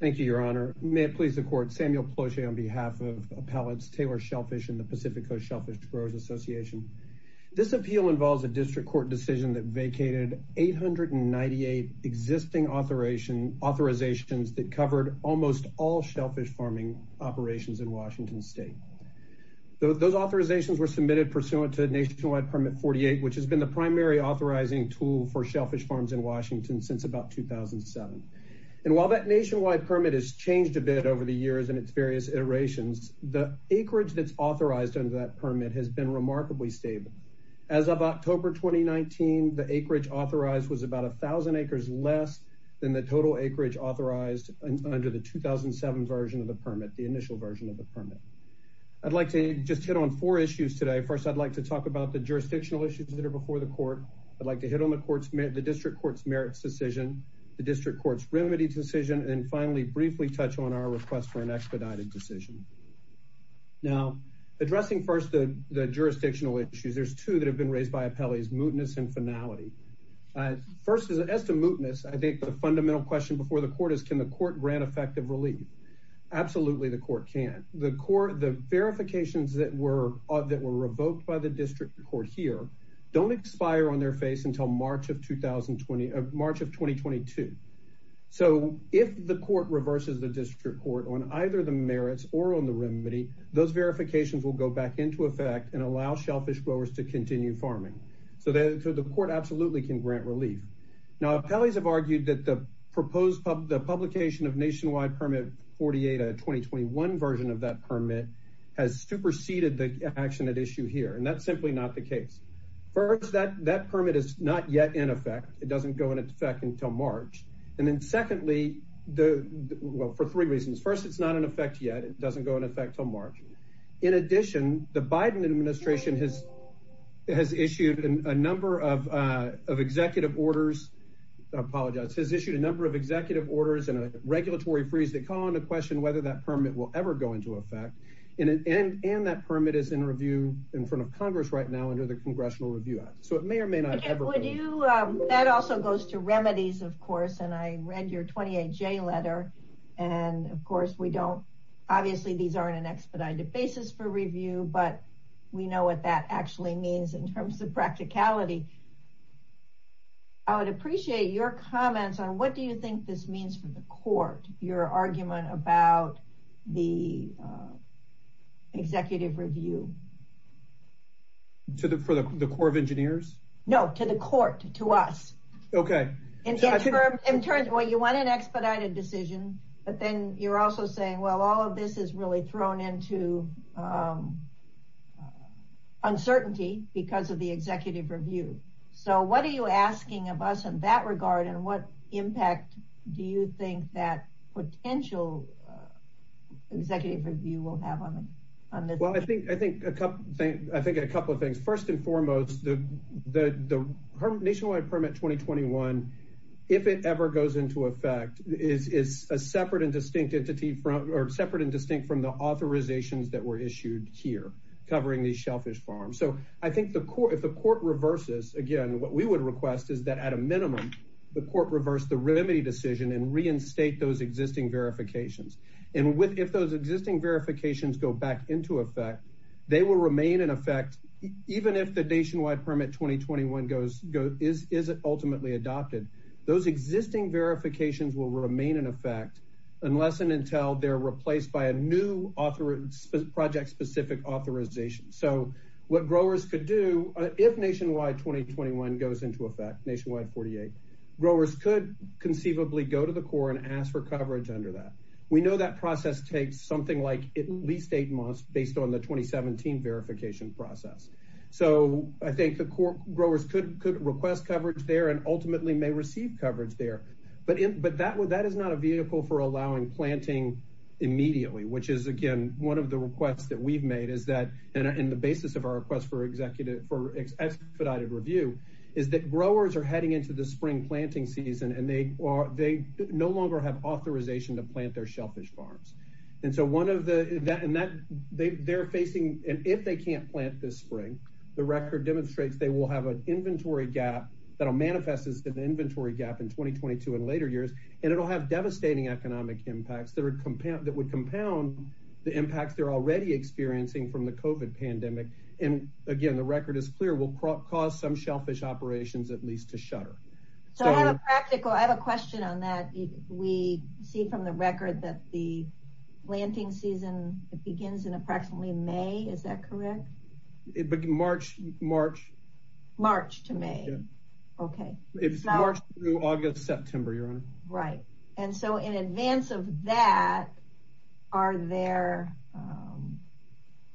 Thank you, Your Honor. May it please the Court, Samuel Peloche on behalf of Appellants Taylor Shellfish and the Pacific Coast Shellfish Growers Association. This appeal involves a district court decision that vacated 898 existing authorizations that covered almost all shellfish farming operations in Washington State. Those authorizations were submitted pursuant to Nationwide Permit 48, which has been the primary authorizing tool for shellfish farms in Washington since about 2007. And while that nationwide permit has changed a bit over the years in its various iterations, the acreage that's authorized under that permit has been remarkably stable. As of October 2019, the acreage authorized was about a thousand acres less than the total acreage authorized under the 2007 version of the permit, the initial version of the permit. I'd like to just hit on four issues today. First, I'd like to talk about the jurisdictional issues that are before the court. I'd like to hit on the district court's merits decision, the district court's remedy decision, and finally, briefly touch on our request for an expedited decision. Now, addressing first the jurisdictional issues, there's two that have been raised by appellees, mootness and finality. First, as to mootness, I think the fundamental question before the court is, can the court grant effective relief? Absolutely, the court can. The verifications that were revoked by the district court here don't expire on their face until March of 2020, March of 2022. So if the court reverses the district court on either the merits or on the remedy, those verifications will go back into effect and allow shellfish growers to continue farming. So the court absolutely can grant relief. Now, appellees have argued that the action at issue here, and that's simply not the case. First, that permit is not yet in effect. It doesn't go into effect until March. And then secondly, well, for three reasons. First, it's not in effect yet. It doesn't go in effect till March. In addition, the Biden administration has issued a number of executive orders, I apologize, has issued a number of executive orders and a regulatory freeze that call into question whether that permit will ever go into effect. And that permit is in review in front of Congress right now under the Congressional Review Act. So it may or may not ever go into effect. That also goes to remedies, of course, and I read your 28J letter. And of course, we don't, obviously these aren't an expedited basis for review, but we know what that actually means in terms of practicality. I would appreciate your argument about the executive review. For the Corps of Engineers? No, to the court, to us. Okay. Well, you want an expedited decision, but then you're also saying, well, all of this is really thrown into uncertainty because of the executive review. So what are you asking of us in that regard? And what impact do you think that potential executive review will have on this? Well, I think a couple of things. First and foremost, the Nationwide Permit 2021, if it ever goes into effect, is separate and distinct from the authorizations that were issued here covering these shellfish farms. So I think if the court reverses, again, what we would request is that at a minimum, the court reverse the remedy decision and reinstate those existing verifications. And if those existing verifications go back into effect, they will remain in effect, even if the Nationwide Permit 2021 isn't ultimately adopted. Those existing verifications will remain in effect unless and until they're replaced by a new project-specific authorization. So what growers could do, if Nationwide 2021 goes into effect, Nationwide 48, growers could conceivably go to the court and ask for coverage under that. We know that process takes something like at least eight months based on the 2017 verification process. So I think the growers could request coverage there and ultimately may receive coverage there. But that is not a vehicle for allowing planting immediately, which is, again, one of the requests that we've made is that, and the basis of our request for expedited review, is that growers are heading into the spring planting season and they no longer have authorization to plant their shellfish farms. And so they're facing, and if they can't plant this spring, the record demonstrates they will have an inventory gap that will manifest as an inventory gap in 2022 and later years, and it'll have devastating economic impacts that would compound the impacts they're already experiencing from the COVID pandemic. And again, the record is clear, will cause some shellfish operations at least to shutter. So I have a practical, I have a question on that. We see from the record that the planting season, it begins in approximately May. Is that correct? March, March, March to May. Okay. It's March through August, September, Your Honor. Right. And so in advance of that, are there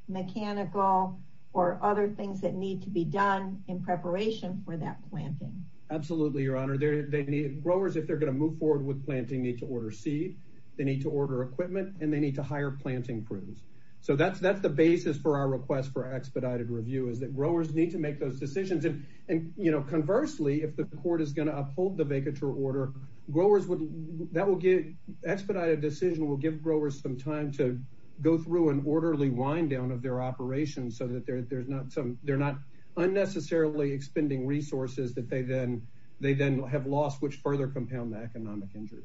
mechanical or other things that need to be done in preparation for that planting? Absolutely, Your Honor. They need, growers, if they're going to move forward with planting, need to order seed, they need to order equipment, and they need to hire planting crews. So that's, that's the basis for our request for expedited review is that growers need to make those decisions. And, you know, conversely, if the court is going to uphold the vacatur order, growers would, that will get, expedited decision will give growers some time to go through an orderly wind down of their operations so that there's not some, they're not unnecessarily expending resources that they then, they then have lost, which further compound the economic injury.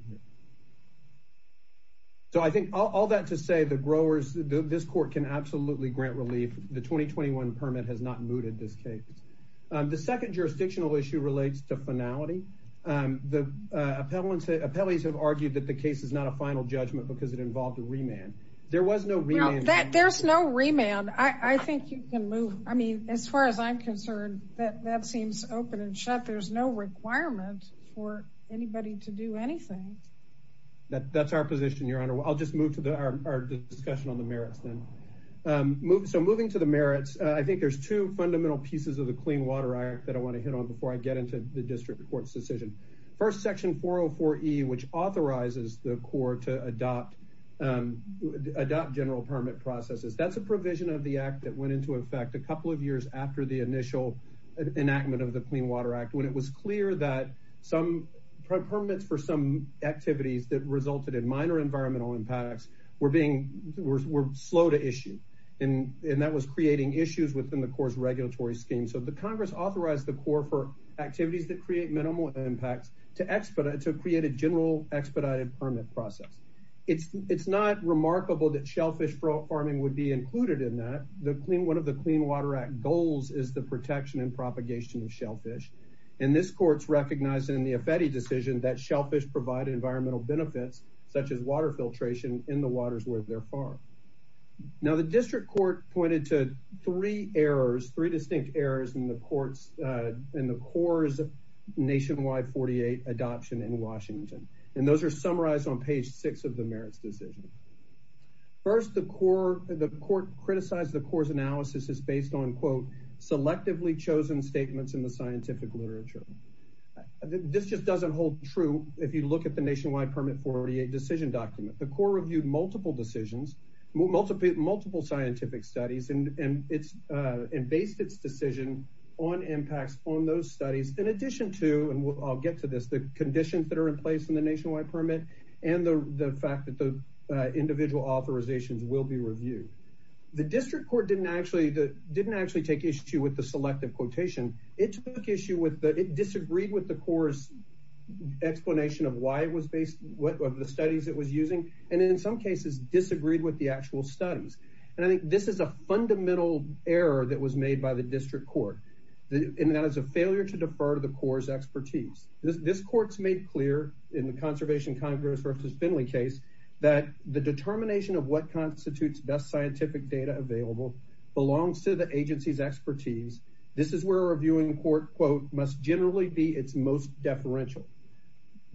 So I think all that to say the growers, this court can absolutely grant relief. The 2021 permit has not mooted this case. The second jurisdictional issue relates to finality. The appellants, appellees have argued that the case is not a final judgment because it involved a remand. There was no remand. There's no remand. I think you can move. I mean, as far as I'm concerned, that seems open and shut. There's no requirement for anybody to do anything. That's our position, Your Honor. I'll just move to our discussion on the merits then. So moving to the merits, I think there's two fundamental pieces of the Clean Water Act that I want to hit on before I get into the district court's decision. First, Section 404E, which authorizes the court to adopt, adopt general permit processes. That's a provision of the act that went into effect a couple of years after the initial enactment of the Clean Water Act, when it was clear that some permits for some activities that resulted in minor environmental impacts were being, were slow to issue. And that was creating issues within the court's regulatory scheme. So the Congress authorized the court for activities that create minimal impacts to expedite, to create a general expedited permit process. It's, it's not remarkable that shellfish farming would be included in that. The Clean, one of the Clean Water Act goals is the protection and propagation of shellfish. And this court's recognized in the Affeti decision that shellfish provide environmental benefits, such as water filtration in the waters where they're farmed. Now the district court pointed to three errors, three distinct errors in the court's, in the court's Nationwide 48 adoption in Washington. And those are summarized on page six of the merits decision. First, the court, the court criticized the court's analysis is based on, quote, selectively chosen statements in the scientific literature. This just doesn't hold true if you look at the Nationwide Permit 48 decision document. The court reviewed multiple decisions, multiple scientific studies, and it's, and based its decision on impacts on those studies. In addition to, and I'll get to this, the conditions that are in place in the Nationwide Permit and the fact that the individual authorizations will be reviewed. The district court didn't actually, didn't actually take issue with the selective quotation. It took issue with the, it disagreed with the course explanation of why it was based, what of the studies it was using. And in some cases disagreed with the actual studies. And I think this is a fundamental error that was made by the district court. And that is a failure to defer to the core's expertise. This court's made clear in the conservation Congress versus Finley case that the determination of what constitutes best scientific data available belongs to the agency's expertise. This is where a reviewing court quote, must generally be its most deferential.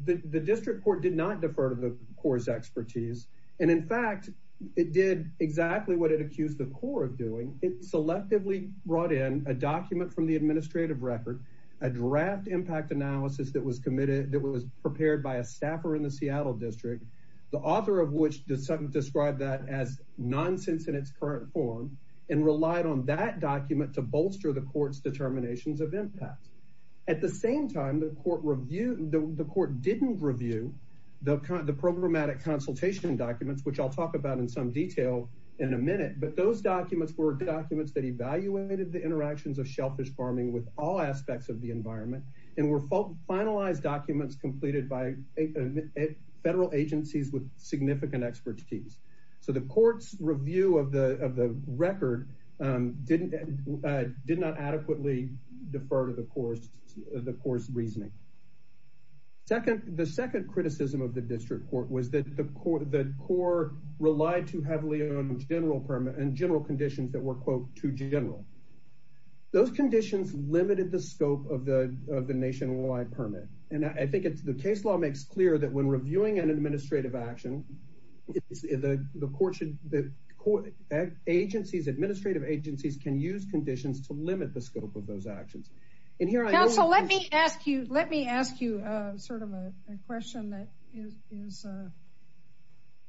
The district court did not defer to the core's expertise. And in fact, it did exactly what it accused the core of doing. It selectively brought in a document from the administrative record, a draft impact analysis that was committed, that was prepared by a staffer in the Seattle district. The author of which described that as nonsense in its current form and relied on that document to bolster the court's impact. At the same time, the court reviewed, the court didn't review the programmatic consultation documents, which I'll talk about in some detail in a minute. But those documents were documents that evaluated the interactions of shellfish farming with all aspects of the environment and were finalized documents completed by federal agencies with significant expertise. So the court's review of the record did not adequately defer to the course, the course reasoning. Second, the second criticism of the district court was that the core relied too heavily on general permit and general conditions that were quote, too general. Those conditions limited the scope of the nationwide permit. And I think it's the case law makes clear that when the court should, that agencies, administrative agencies can use conditions to limit the scope of those actions. And here I also let me ask you, let me ask you a sort of a question that is, is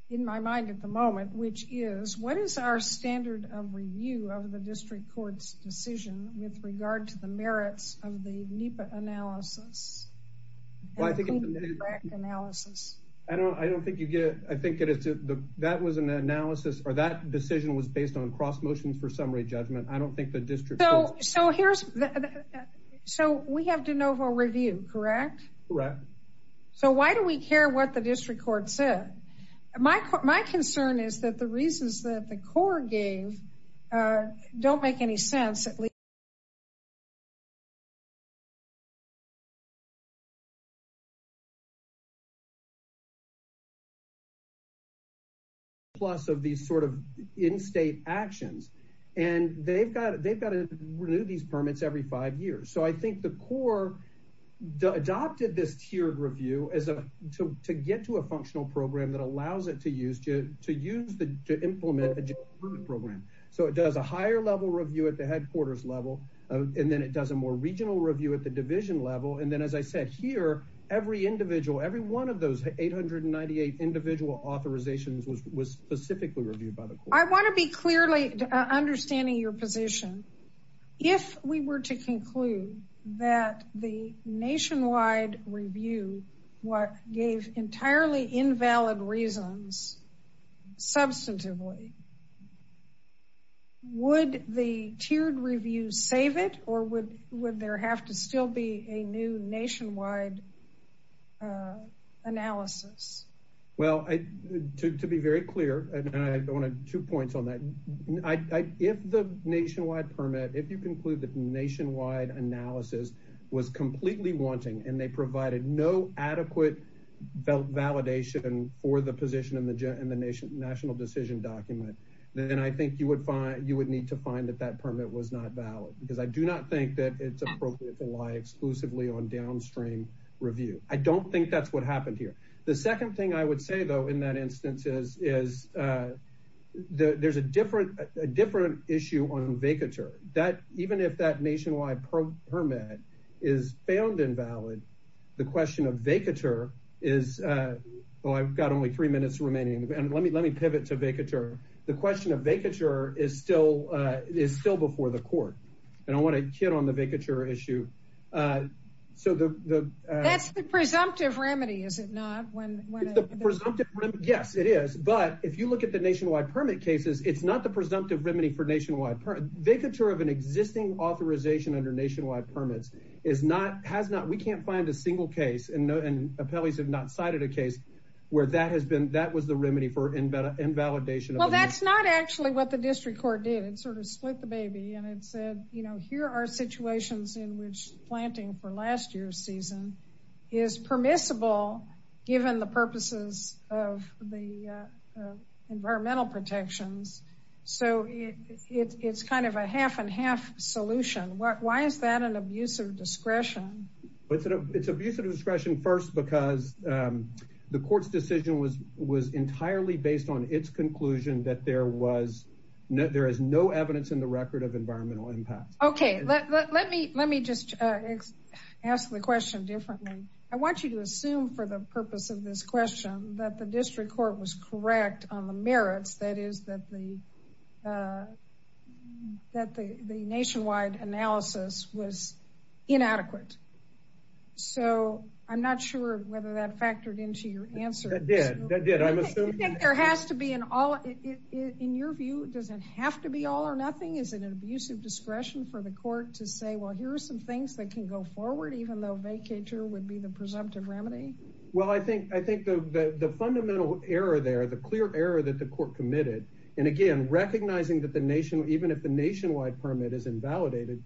in my mind at the moment, which is what is our standard of review of the district courts decision with regard to the merits of the NEPA analysis? I don't, I don't think you get it. I think that it's the, that was an analysis or that decision was based on cross motions for summary judgment. I don't think the district. So here's the, so we have de novo review, correct? Correct. So why do we care what the district court said? My, my concern is that the reasons that the court gave don't make any sense. And I think that's a plus of these sort of in-state actions. And they've got, they've got to renew these permits every five years. So I think the core adopted this tiered review as a, to, to get to a functional program that allows it to use, to use the, to implement a program. So it does a higher level review at the headquarters level. And then it does a more regional review at the division level. And then, as I said here, every individual, every one of those 898 individual authorizations was, was specifically reviewed by the court. I want to be clearly understanding your position. If we were to conclude that the nationwide review, what gave entirely invalid reasons, substantively, would the tiered review save it or would, would there have to still be a new nationwide analysis? Well, I, to, to be very clear, and I, I want to, two points on that. I, I, if the nationwide permit, if you conclude that nationwide analysis was completely wanting and they provided no adequate validation for the position in the, in the nation, national decision document, then I think you would find, you would need to find that that permit was not valid because I do not think that it's appropriate to lie exclusively on downstream review. I don't think that's what happened here. The second thing I would say though, in that instance is, is the, there's a different, a different issue on vacatur that even if that the question of vacatur is, well, I've got only three minutes remaining and let me, let me pivot to vacatur. The question of vacatur is still, is still before the court. And I want to hit on the vacatur issue. So the, the, that's the presumptive remedy, is it not? Yes, it is. But if you look at the nationwide permit cases, it's not the presumptive remedy for nationwide vacatur of an existing authorization under nationwide permits is not, has not, we can't find a single case and appellees have not cited a case where that has been, that was the remedy for invalidation. Well, that's not actually what the district court did. It sort of split the baby and it said, you know, here are situations in which planting for last year's season is permissible given the purposes of the environmental protections. So it's, it's an abuse of discretion. It's an abuse of discretion first, because the court's decision was, was entirely based on its conclusion that there was no, there is no evidence in the record of environmental impact. Okay. Let me, let me just ask the question differently. I want you to assume for the purpose of this question that the district court was correct on the merits. That is that the, that the, the nationwide analysis was inadequate. So I'm not sure whether that factored into your answer. That did, that did. I'm assuming. There has to be an all, in your view, does it have to be all or nothing? Is it an abuse of discretion for the court to say, well, here's some things that can go forward, even though vacatur would be the presumptive remedy? Well, I think, I think the, the, the fundamental error there, the clear error that the court committed, and again, recognizing that the nation, even if the nationwide permit is invalidated,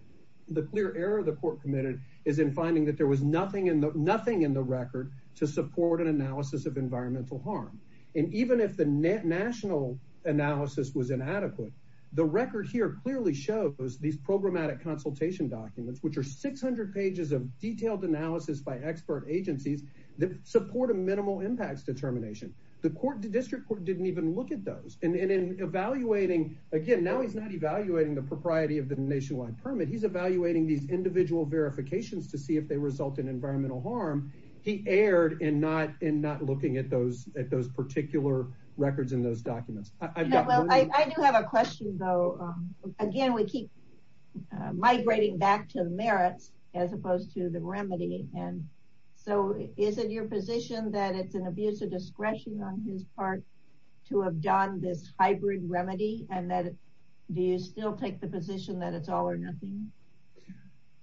the clear error of the court committed is in finding that there was nothing in the, nothing in the record to support an analysis of environmental harm. And even if the net national analysis was inadequate, the record here clearly shows these programmatic consultation documents, which are 600 pages of detailed analysis by expert agencies that support a minimal impacts determination. The court, the district court didn't even look at those and in evaluating again, now he's not evaluating the propriety of the nationwide permit. He's evaluating these individual verifications to see if they result in environmental harm. He erred in not, in not looking at those, at those particular records in those documents. I do have a question though. Again, we keep migrating back to the merits as opposed to the remedy. And so is it your position that it's an abuse of discretion on his part to have done this hybrid remedy? And that do you still take the position that it's all or nothing?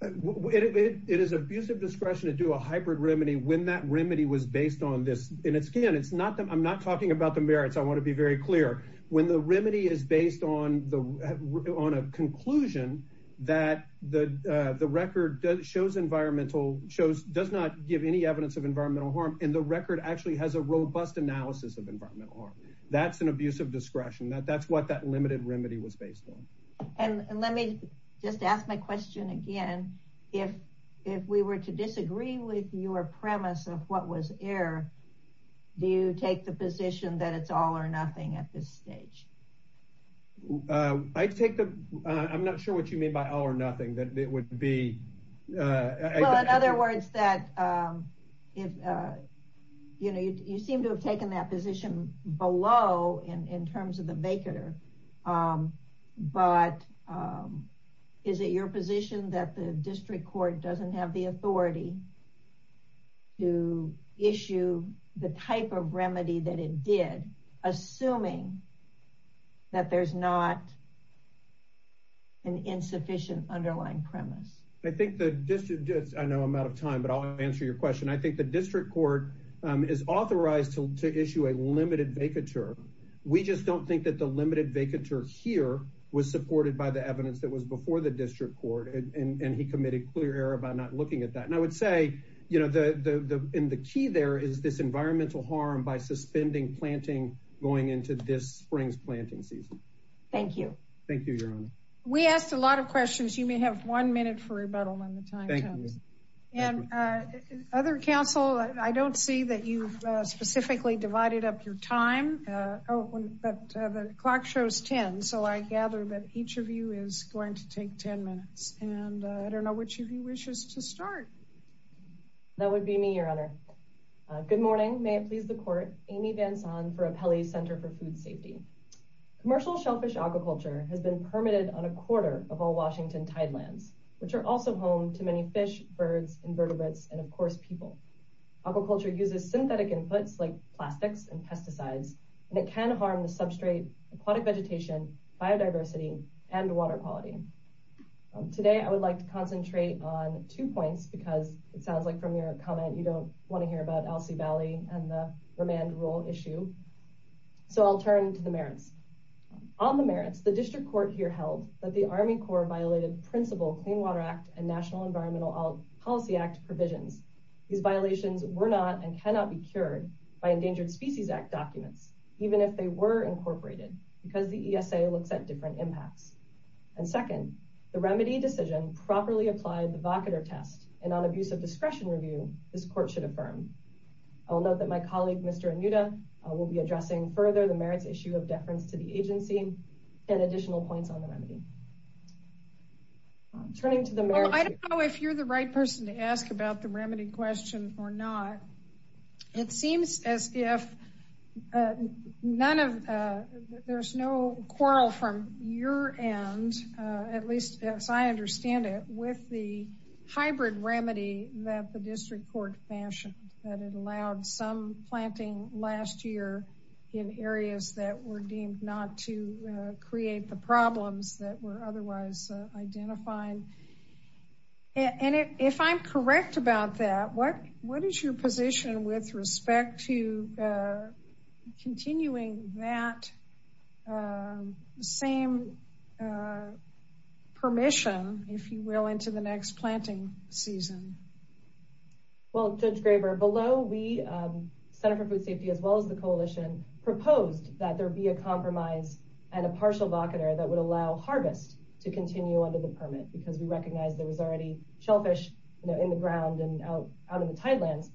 It is abuse of discretion to do a hybrid remedy when that remedy was based on this, and it's again, it's not, I'm not talking about the merits. I want to be very clear when the remedy is based on the, on a conclusion that the, the record does shows environmental shows, does not give any evidence of environmental harm. And the record actually has a robust analysis of environmental harm. That's an abuse of discretion. That that's what that limited remedy was based on. And let me just ask my question again, if, if we were to disagree with your premise of what was air, do you take the position that it's all or nothing at this stage? I take the, I'm not sure what you mean by all or nothing, that it would be. Well, in other words that if, you know, you seem to have taken that position below and in terms of the maker, but is it your position that the district court doesn't have the assuming that there's not an insufficient underlying premise? I think the district, I know I'm out of time, but I'll answer your question. I think the district court is authorized to issue a limited vacatur. We just don't think that the limited vacatur here was supported by the evidence that was before the district court. And he committed clear error about not looking at that. And I would say, you know, the, the, the, and the key there is this going into this spring's planting season. Thank you. Thank you, your honor. We asked a lot of questions. You may have one minute for rebuttal on the time. And other council, I don't see that you've specifically divided up your time. Oh, but the clock shows 10. So I gather that each of you is going to take 10 minutes and I don't know which of you wishes to start. That would be me, Amy Vanson for Apelli Center for Food Safety. Commercial shellfish aquaculture has been permitted on a quarter of all Washington tidelands, which are also home to many fish, birds, invertebrates, and of course, people. Aquaculture uses synthetic inputs like plastics and pesticides, and it can harm the substrate, aquatic vegetation, biodiversity, and water quality. Today, I would like to concentrate on two points because it sounds like from your comment, you don't want to hear about Elsie Valley and the remand rule issue. So I'll turn to the merits. On the merits, the district court here held that the Army Corps violated principal Clean Water Act and National Environmental Policy Act provisions. These violations were not and cannot be cured by Endangered Species Act documents, even if they were incorporated because the ESA looks at different impacts. And second, the remedy decision properly applied the vocator test and on abuse of I will note that my colleague, Mr. Anuda, will be addressing further the merits issue of deference to the agency and additional points on the remedy. Turning to the merits. I don't know if you're the right person to ask about the remedy question or not. It seems as if none of there's no quarrel from your end, at least as I understand it, with the hybrid remedy that the district court fashioned. Some planting last year in areas that were deemed not to create the problems that were otherwise identified. And if I'm correct about that, what is your position with respect to continuing that same permission, if you will, into the next planting season? Well, Judge Graber, below we, Center for Food Safety, as well as the coalition, proposed that there be a compromise and a partial vocator that would allow harvest to continue under the permit because we recognize there was already shellfish in the ground and out in the tidelands.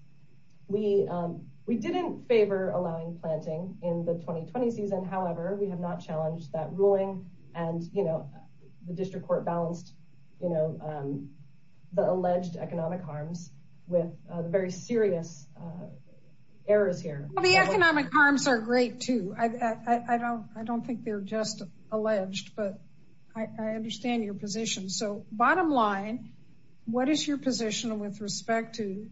We didn't favor allowing planting in the 2020 season. However, we have not challenged that with very serious errors here. The economic harms are great too. I don't think they're just alleged, but I understand your position. So bottom line, what is your position with respect to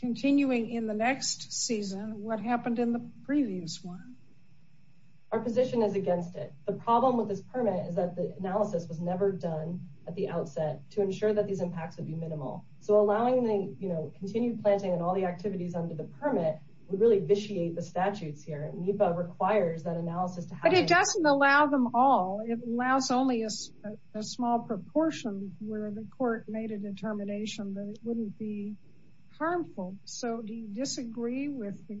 continuing in the next season? What happened in the previous one? Our position is against it. The problem with this permit is that the analysis was never done at the outset to ensure that these impacts would be minimal. So allowing the continued planting and all the activities under the permit would really vitiate the statutes here. NEPA requires that analysis to happen. But it doesn't allow them all. It allows only a small proportion where the court made a determination that it wouldn't be harmful. So do you disagree with the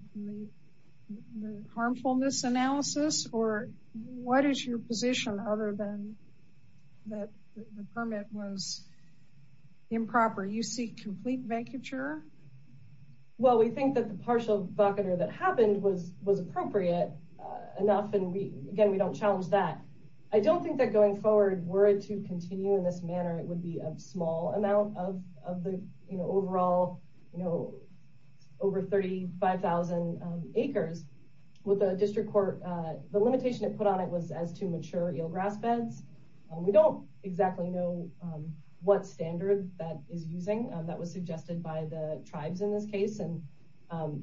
harmfulness analysis? Or what is your position other than that the permit was improper? You seek complete vacature? Well, we think that the partial vocator that happened was appropriate enough. And again, we don't challenge that. I don't think that going forward were it to continue in this manner, it would be a small amount of the overall you know, over 35,000 acres with the district court. The limitation it put on it was as to mature eelgrass beds. We don't exactly know what standard that is using that was suggested by the tribes in this case. And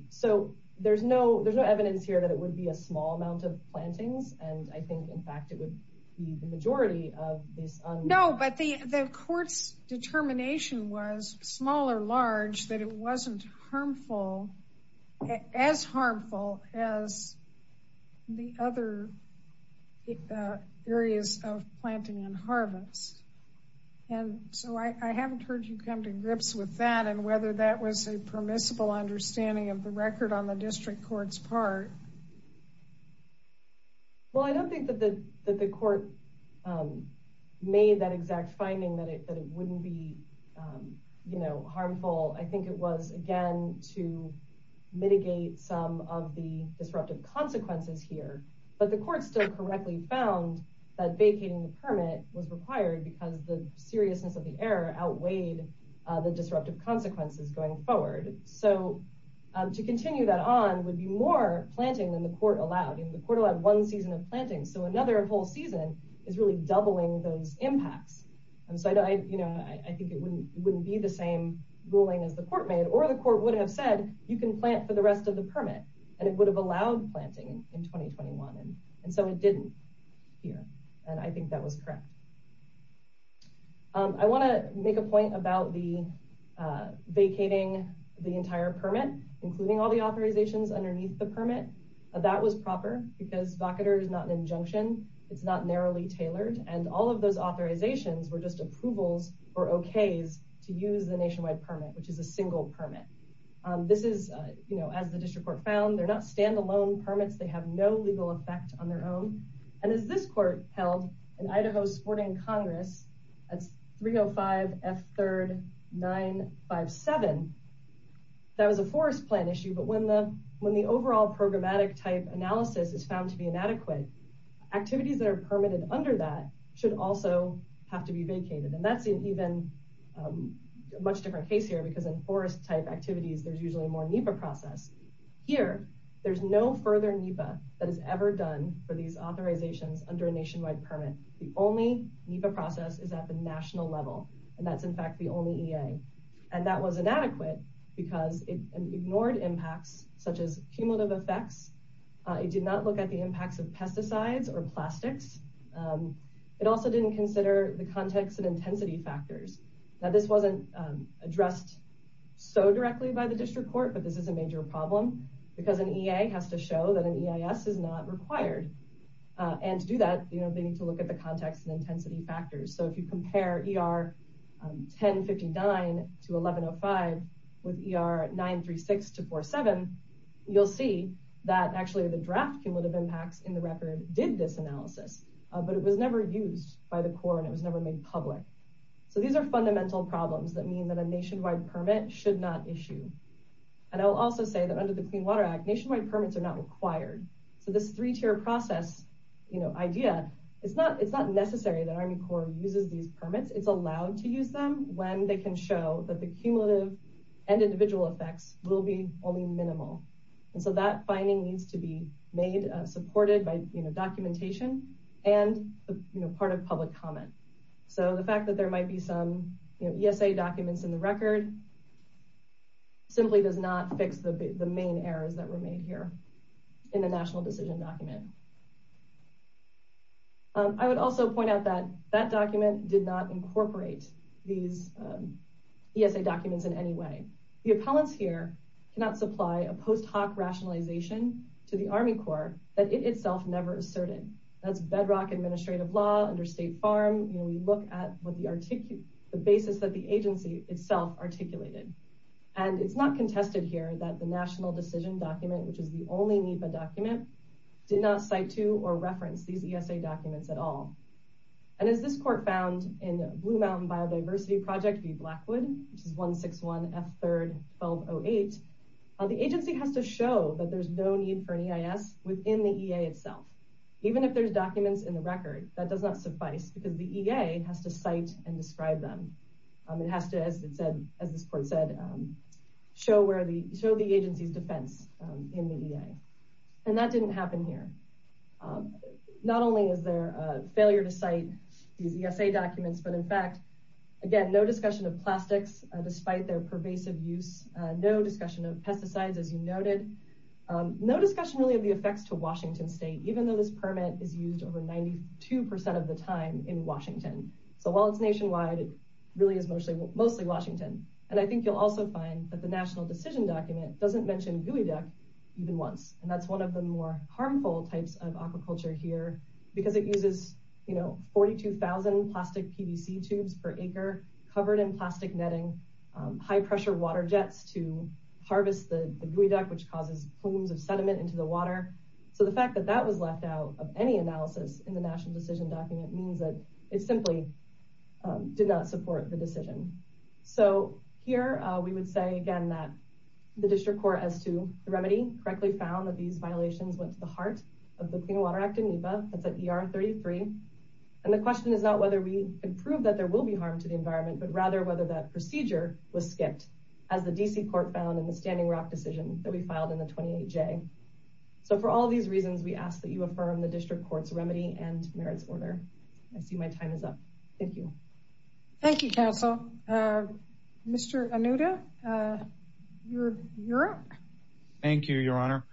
so there's no there's no evidence here that it would be a small amount of plantings. And I think, in fact, it would be the majority of this. No, but the court's small or large that it wasn't harmful, as harmful as the other areas of planting and harvest. And so I haven't heard you come to grips with that and whether that was a permissible understanding of the record on the district court's part. Well, I don't think that the harmful I think it was, again, to mitigate some of the disruptive consequences here. But the court still correctly found that vacating the permit was required because the seriousness of the error outweighed the disruptive consequences going forward. So to continue that on would be more planting than the court allowed. And the court allowed one season of planting. So another whole season is really doubling those impacts. And so, you know, I think it wouldn't be the same ruling as the court made or the court would have said you can plant for the rest of the permit and it would have allowed planting in 2021. And so it didn't here. And I think that was correct. I want to make a point about the vacating the entire permit, including all the authorizations underneath the permit. That was proper because vacater is not an injunction. It's not narrowly tailored. And all of those authorizations were just approvals or okays to use the nationwide permit, which is a single permit. This is, you know, as the district court found, they're not standalone permits. They have no legal effect on their own. And as this court held in Idaho sporting Congress, that's 305 F 3rd 9 5 7. That was a forest plan issue. But when the when the overall programmatic type analysis is found to be inadequate, activities that are permitted under that should also have to be vacated. And that's even a much different case here, because in forest type activities, there's usually more NEPA process here. There's no further NEPA that is ever done for these authorizations under a nationwide permit. The only NEPA process is at the national level. And that's, in fact, the only EA. And that was inadequate because it ignored impacts such as cumulative effects. It did not look at the impacts of pesticides or plastics. It also didn't consider the context and intensity factors. Now, this wasn't addressed so directly by the district court, but this is a major problem because an EA has to show that an EIS is not required. And to do that, you know, they need to look at the context and intensity factors. So if you compare ER 10 59 to 11 0 5 with ER 9 3 6 to 4 7, you'll see that actually the draft cumulative impacts in the record did this analysis, but it was never used by the Corps, and it was never made public. So these are fundamental problems that mean that a nationwide permit should not issue. And I'll also say that under the Clean Water Act, nationwide permits are not required. So this three-tier process, you know, idea, it's not necessary that Army Corps uses these permits. It's allowed to use them when they can show that the cumulative and individual effects will be only minimal. And so that finding needs to be made supported by, you know, documentation and, you know, part of public comment. So the fact that there might be some, you know, ESA documents in the record simply does not fix the main errors that were made here in the national decision document. I would also point out that that document did not incorporate these ESA documents in any way. The appellants here cannot supply a post hoc rationalization to the Army Corps that it itself never asserted. That's bedrock administrative law under State Farm. You know, we look at what the basis that the agency itself articulated. And it's not contested here that the national decision document, which is the only NEPA document, did not cite to or diversity project be Blackwood, which is 161 F3-1208. The agency has to show that there's no need for an EIS within the EA itself. Even if there's documents in the record, that does not suffice because the EA has to cite and describe them. It has to, as it said, as this court said, show the agency's defense in the EA. And that didn't happen here. Not only is there a failure to cite these ESA documents, but in fact, again, no discussion of plastics despite their pervasive use, no discussion of pesticides, as you noted, no discussion really of the effects to Washington State, even though this permit is used over 92% of the time in Washington. So while it's nationwide, it really is mostly Washington. And I think you'll also find that the national decision document doesn't mention geoduck even once. And that's one of the more harmful types of aquaculture here because it uses 42,000 plastic PVC tubes per acre covered in plastic netting, high pressure water jets to harvest the geoduck, which causes plumes of sediment into the water. So the fact that that was left out of any analysis in the national decision document means that it simply did not support the decision. So here we would say again, that the district court as to the remedy correctly found that these violations went to the heart of the Clean Water Act in NEPA, that's at ER 33. And the question is not whether we can prove that there will be harm to the environment, but rather whether that procedure was skipped as the DC court found in the Standing Rock decision that we filed in the 28J. So for all of these reasons, we ask that you affirm the district court's remedy and merits order. I see my time is up. Thank you. Thank you, counsel. Mr. Anuda, you're up. Thank you, your honor.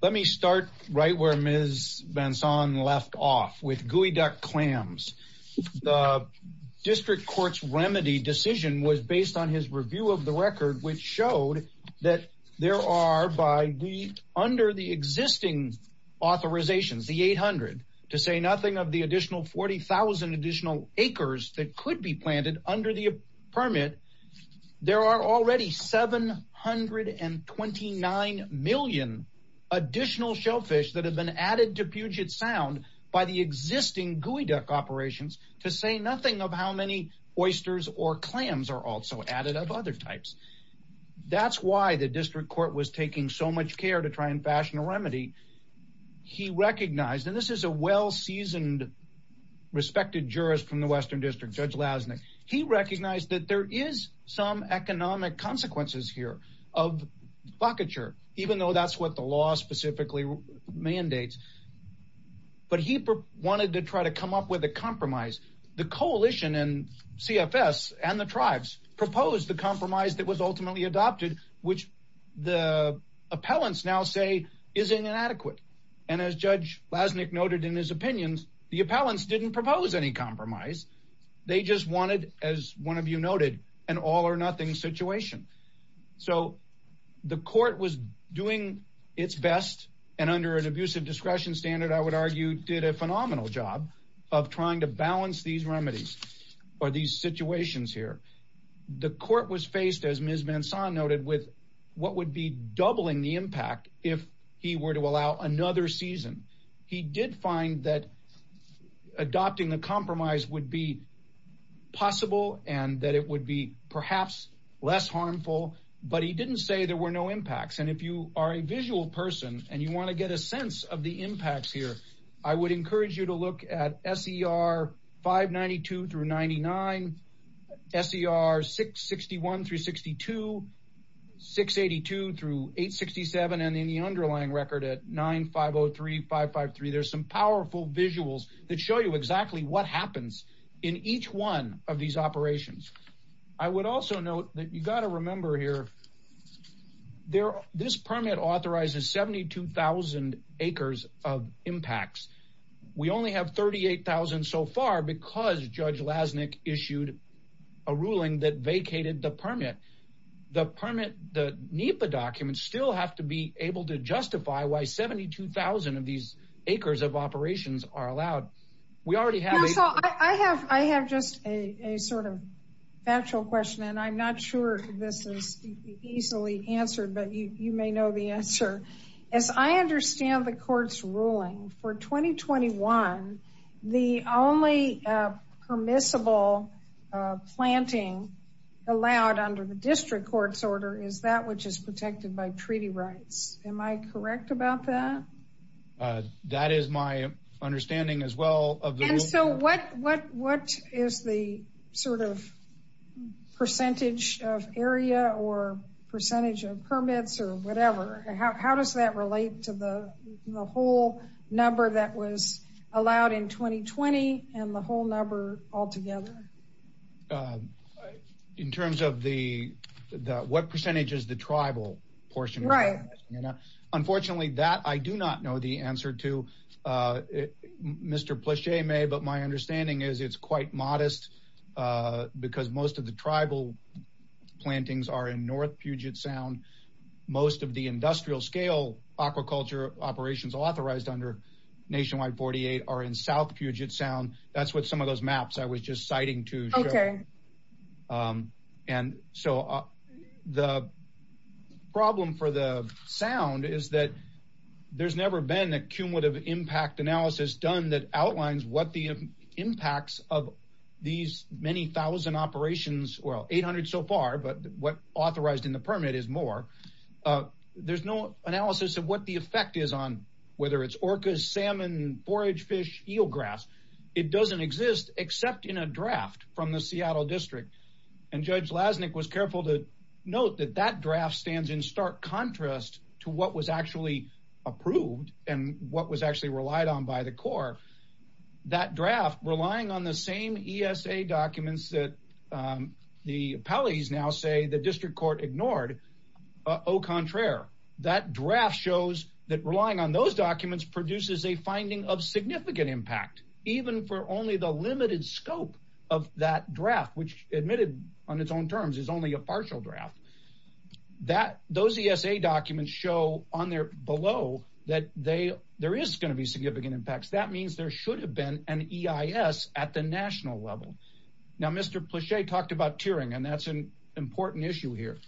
Let me start right where Ms. Benson left off with geoduck clams. The district court's remedy decision was based on his review of the record, which showed that there are by the under the existing authorizations, the 800 to say nothing of the additional 40,000 additional acres that could be planted under the permit. There are already 729 million additional shellfish that have been added to Puget Sound by the existing geoduck operations to say nothing of how many oysters or clams are also added of other types. That's why the district court was taking so much care to try and fashion a remedy. He recognized, and this is a well-seasoned, respected jurist from the Western District, Judge Lasnik. He recognized that there is some economic consequences here of bockature, even though that's what the law specifically mandates. But he wanted to try to propose the compromise that was ultimately adopted, which the appellants now say is inadequate. And as Judge Lasnik noted in his opinions, the appellants didn't propose any compromise. They just wanted, as one of you noted, an all or nothing situation. So the court was doing its best and under an abusive discretion standard, I would argue, did a phenomenal job of trying to balance these remedies or these situations here. The court was faced, as Ms. Manson noted, with what would be doubling the impact if he were to allow another season. He did find that adopting the compromise would be possible and that it would be perhaps less harmful. But he didn't say there were no impacts. And if you are a visual person and you want to get a sense of the impacts here, I would encourage you to look at SER 592-99, SER 661-62, 682-867, and in the underlying record at 9503-553. There's some powerful visuals that show you exactly what happens in each one of these operations. I would also note that you have 72,000 acres of impacts. We only have 38,000 so far because Judge Lasnik issued a ruling that vacated the permit. The permit, the NEPA documents, still have to be able to justify why 72,000 of these acres of operations are allowed. We already have... I have just a sort of factual question, and I'm not sure this is easily answered, but you may know the answer. As I understand the court's ruling for 2021, the only permissible planting allowed under the district court's order is that which is protected by treaty rights. Am I correct about that? That is my understanding as well. And so what is the sort of area or percentage of permits or whatever? How does that relate to the whole number that was allowed in 2020 and the whole number altogether? In terms of what percentage is the tribal portion? Right. Unfortunately, that I do not know the answer to, Mr. Plachet may, but my understanding is it's quite modest because most of the tribal plantings are in North Puget Sound. Most of the industrial scale aquaculture operations authorized under Nationwide 48 are in South Puget Sound. That's what some of those maps I was just citing to show. And so the problem for the sound is that there's never been a cumulative impact analysis done that outlines what the impacts of these many thousand operations, well, 800 so far, but what authorized in the permit is more. There's no analysis of what the effect is on, whether it's orcas, salmon, forage fish, eelgrass. It doesn't exist except in a draft from the Seattle district. And Judge Lasnik was careful to note that that draft stands in stark contrast to what was actually approved and what was actually relied on by the Corps. That draft, relying on the same ESA documents that the appellees now say the district court ignored, au contraire. That draft shows that relying on those documents produces a finding of significant impact, even for only the limited scope of that draft, which admitted on its own terms is only a partial draft. Those ESA documents show on there below that there is going to be significant impacts. That means there should have been an EIS at the national level. Now, Mr. Plache talked about tiering, and that's an important issue here.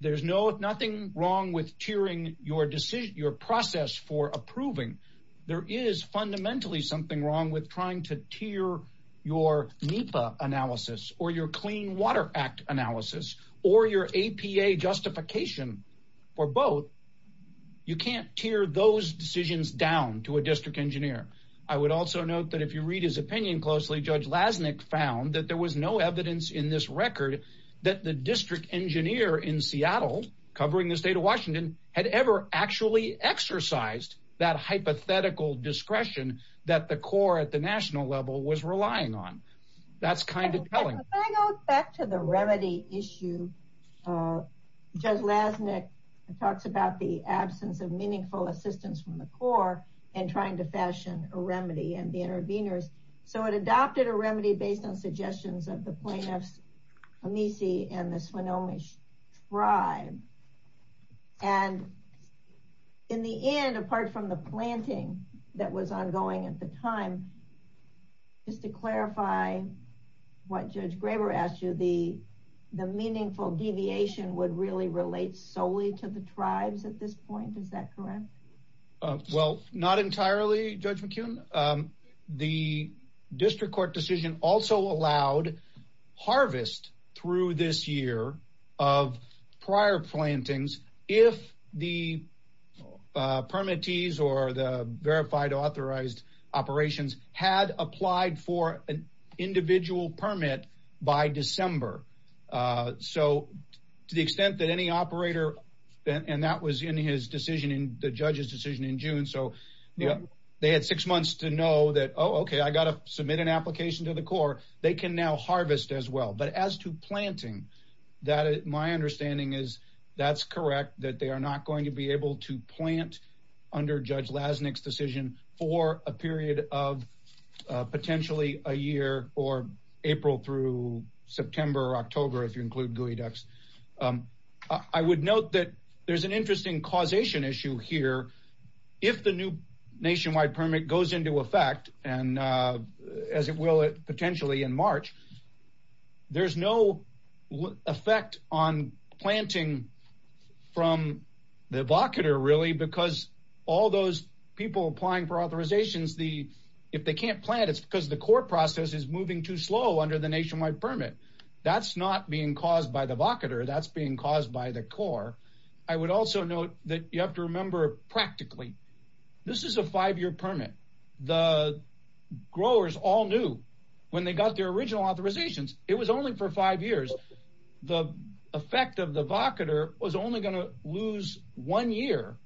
There's nothing wrong with tiering your decision, your process for approving. There is fundamentally something wrong with trying to tier your NEPA analysis or your Clean Water Act analysis or your APA justification for both. You can't tier those decisions down to a district engineer. I would also note that if you read his opinion closely, Judge Lasnik found that there was no evidence in this record that the district engineer in Seattle, covering the state of Washington, had ever actually exercised that hypothetical discretion that the Corps at the national level was relying on. That's kind of telling. If I go back to the remedy issue, Judge Lasnik talks about the absence of meaningful assistance from the Corps in trying to fashion a remedy and the interveners. So it adopted a remedy based on suggestions of the plaintiffs Amici and the Swinomish Tribe. And in the end, apart from the that was ongoing at the time, just to clarify what Judge Graber asked you, the meaningful deviation would really relate solely to the tribes at this point. Is that correct? Well, not entirely, Judge McKeon. The district court decision also allowed harvest through this of prior plantings if the permittees or the verified authorized operations had applied for an individual permit by December. So to the extent that any operator, and that was in his decision, in the judge's decision in June. So they had six months to know that, oh, okay, I got to that. My understanding is that's correct, that they are not going to be able to plant under Judge Lasnik's decision for a period of potentially a year or April through September or October, if you include geoducks. I would note that there's an interesting causation issue here. If the new nationwide permit goes into effect, and as it will potentially in March, there's no effect on planting from the evocator really, because all those people applying for authorizations, if they can't plant, it's because the core process is moving too slow under the nationwide permit. That's not being caused by the evocator, that's being caused by the core. I would also note that you have to remember practically, this is a five-year permit. The growers all knew when they got their original authorizations, it was only for five years, the effect of the evocator was only going to lose one year,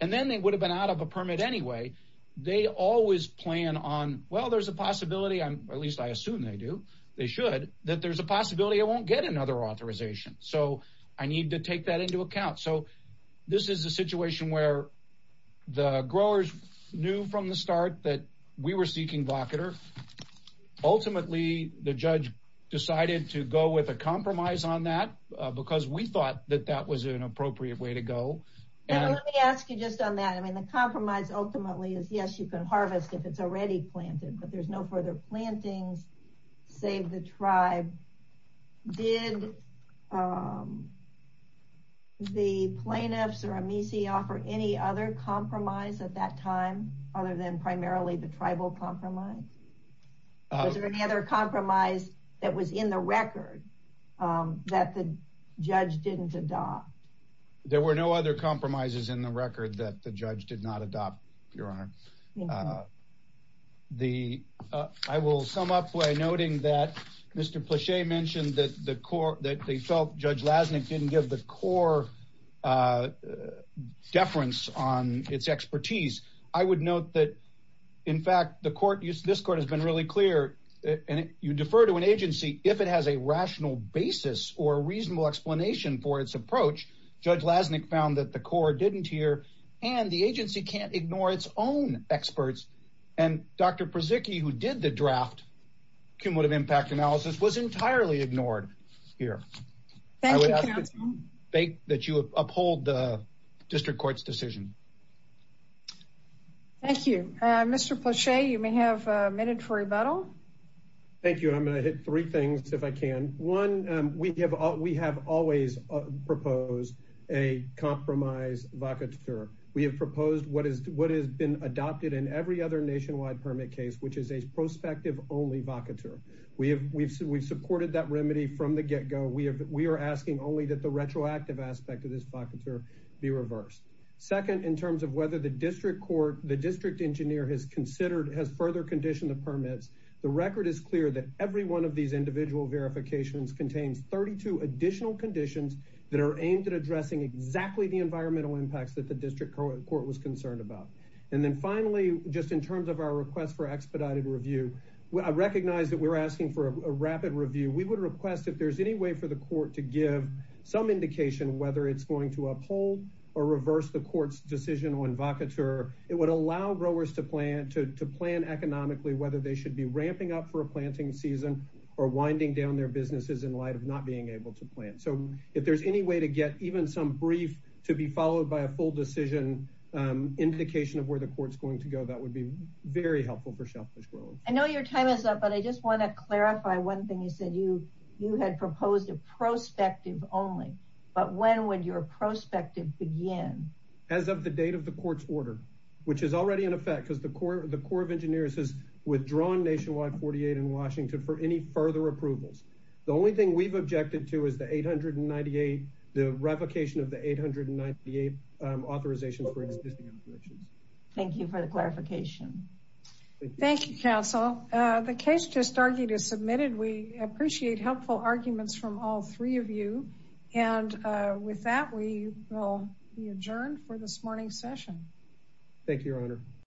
and then they would have been out of a permit anyway. They always plan on, well, there's a possibility, at least I assume they do, they should, that there's a possibility I won't get another authorization. So I need to take that account. So this is a situation where the growers knew from the start that we were seeking evocator. Ultimately, the judge decided to go with a compromise on that, because we thought that that was an appropriate way to go. Let me ask you just on that. I mean, the compromise ultimately is yes, you can harvest if it's already planted, but there's no further plantings, save the tribe. Did the plaintiffs or Amici offer any other compromise at that time, other than primarily the tribal compromise? Was there any other compromise that was in the record that the judge didn't adopt? There were no other compromises in the record that the judge did not adopt, Your Honor. I will sum up by noting that Mr. Plachet mentioned that the court, that they felt Judge Lasnik didn't give the core deference on its expertise. I would note that, in fact, the court, this court has been really clear, and you defer to an agency if it has a rational basis or a reasonable explanation for its approach. Judge Lasnik found that the court didn't hear, and the agency can't ignore its own experts, and Dr. Przycki, who did the draft cumulative impact analysis, was entirely ignored here. I would ask that you uphold the district court's decision. Thank you. Mr. Plachet, you may have a minute for rebuttal. Thank you. I'm going to hit three things, if I can. One, we have always proposed a compromise vacateur. We have proposed what has been adopted in every other nationwide permit case, which is a prospective-only vacateur. We've supported that remedy from the get-go. We are asking only that the retroactive aspect of this vacateur be reversed. Second, in terms of whether the district court, the district engineer has considered, has further conditioned the permits, the record is clear that every one of these individual verifications contains 32 additional conditions that are aimed at addressing exactly the environmental impacts that the district court was concerned about. And then finally, just in terms of our request for expedited review, I recognize that we're asking for a rapid review. We would request, if there's any way for the court to give some indication whether it's going to uphold or reverse the court's decision on vacateur, it would allow growers to plan economically, whether they should be ramping up for a planting season or winding down their businesses in light of not being able to plant. So if there's any way to get even some brief to be followed by a full decision indication of where the court's going to go, that would be very helpful for shellfish growers. I know your time is up, but I just want to clarify one thing you said. You had proposed a prospective-only, but when would your prospective begin? As of the date of the court's order, which is already in effect because the Corps of Engineers withdrawn Nationwide 48 in Washington for any further approvals. The only thing we've objected to is the revocation of the 898 authorizations for existing applications. Thank you for the clarification. Thank you, counsel. The case just argued is submitted. We appreciate helpful arguments from all three of you. And with that, we will be adjourned for this morning's session. Thank you, your honor.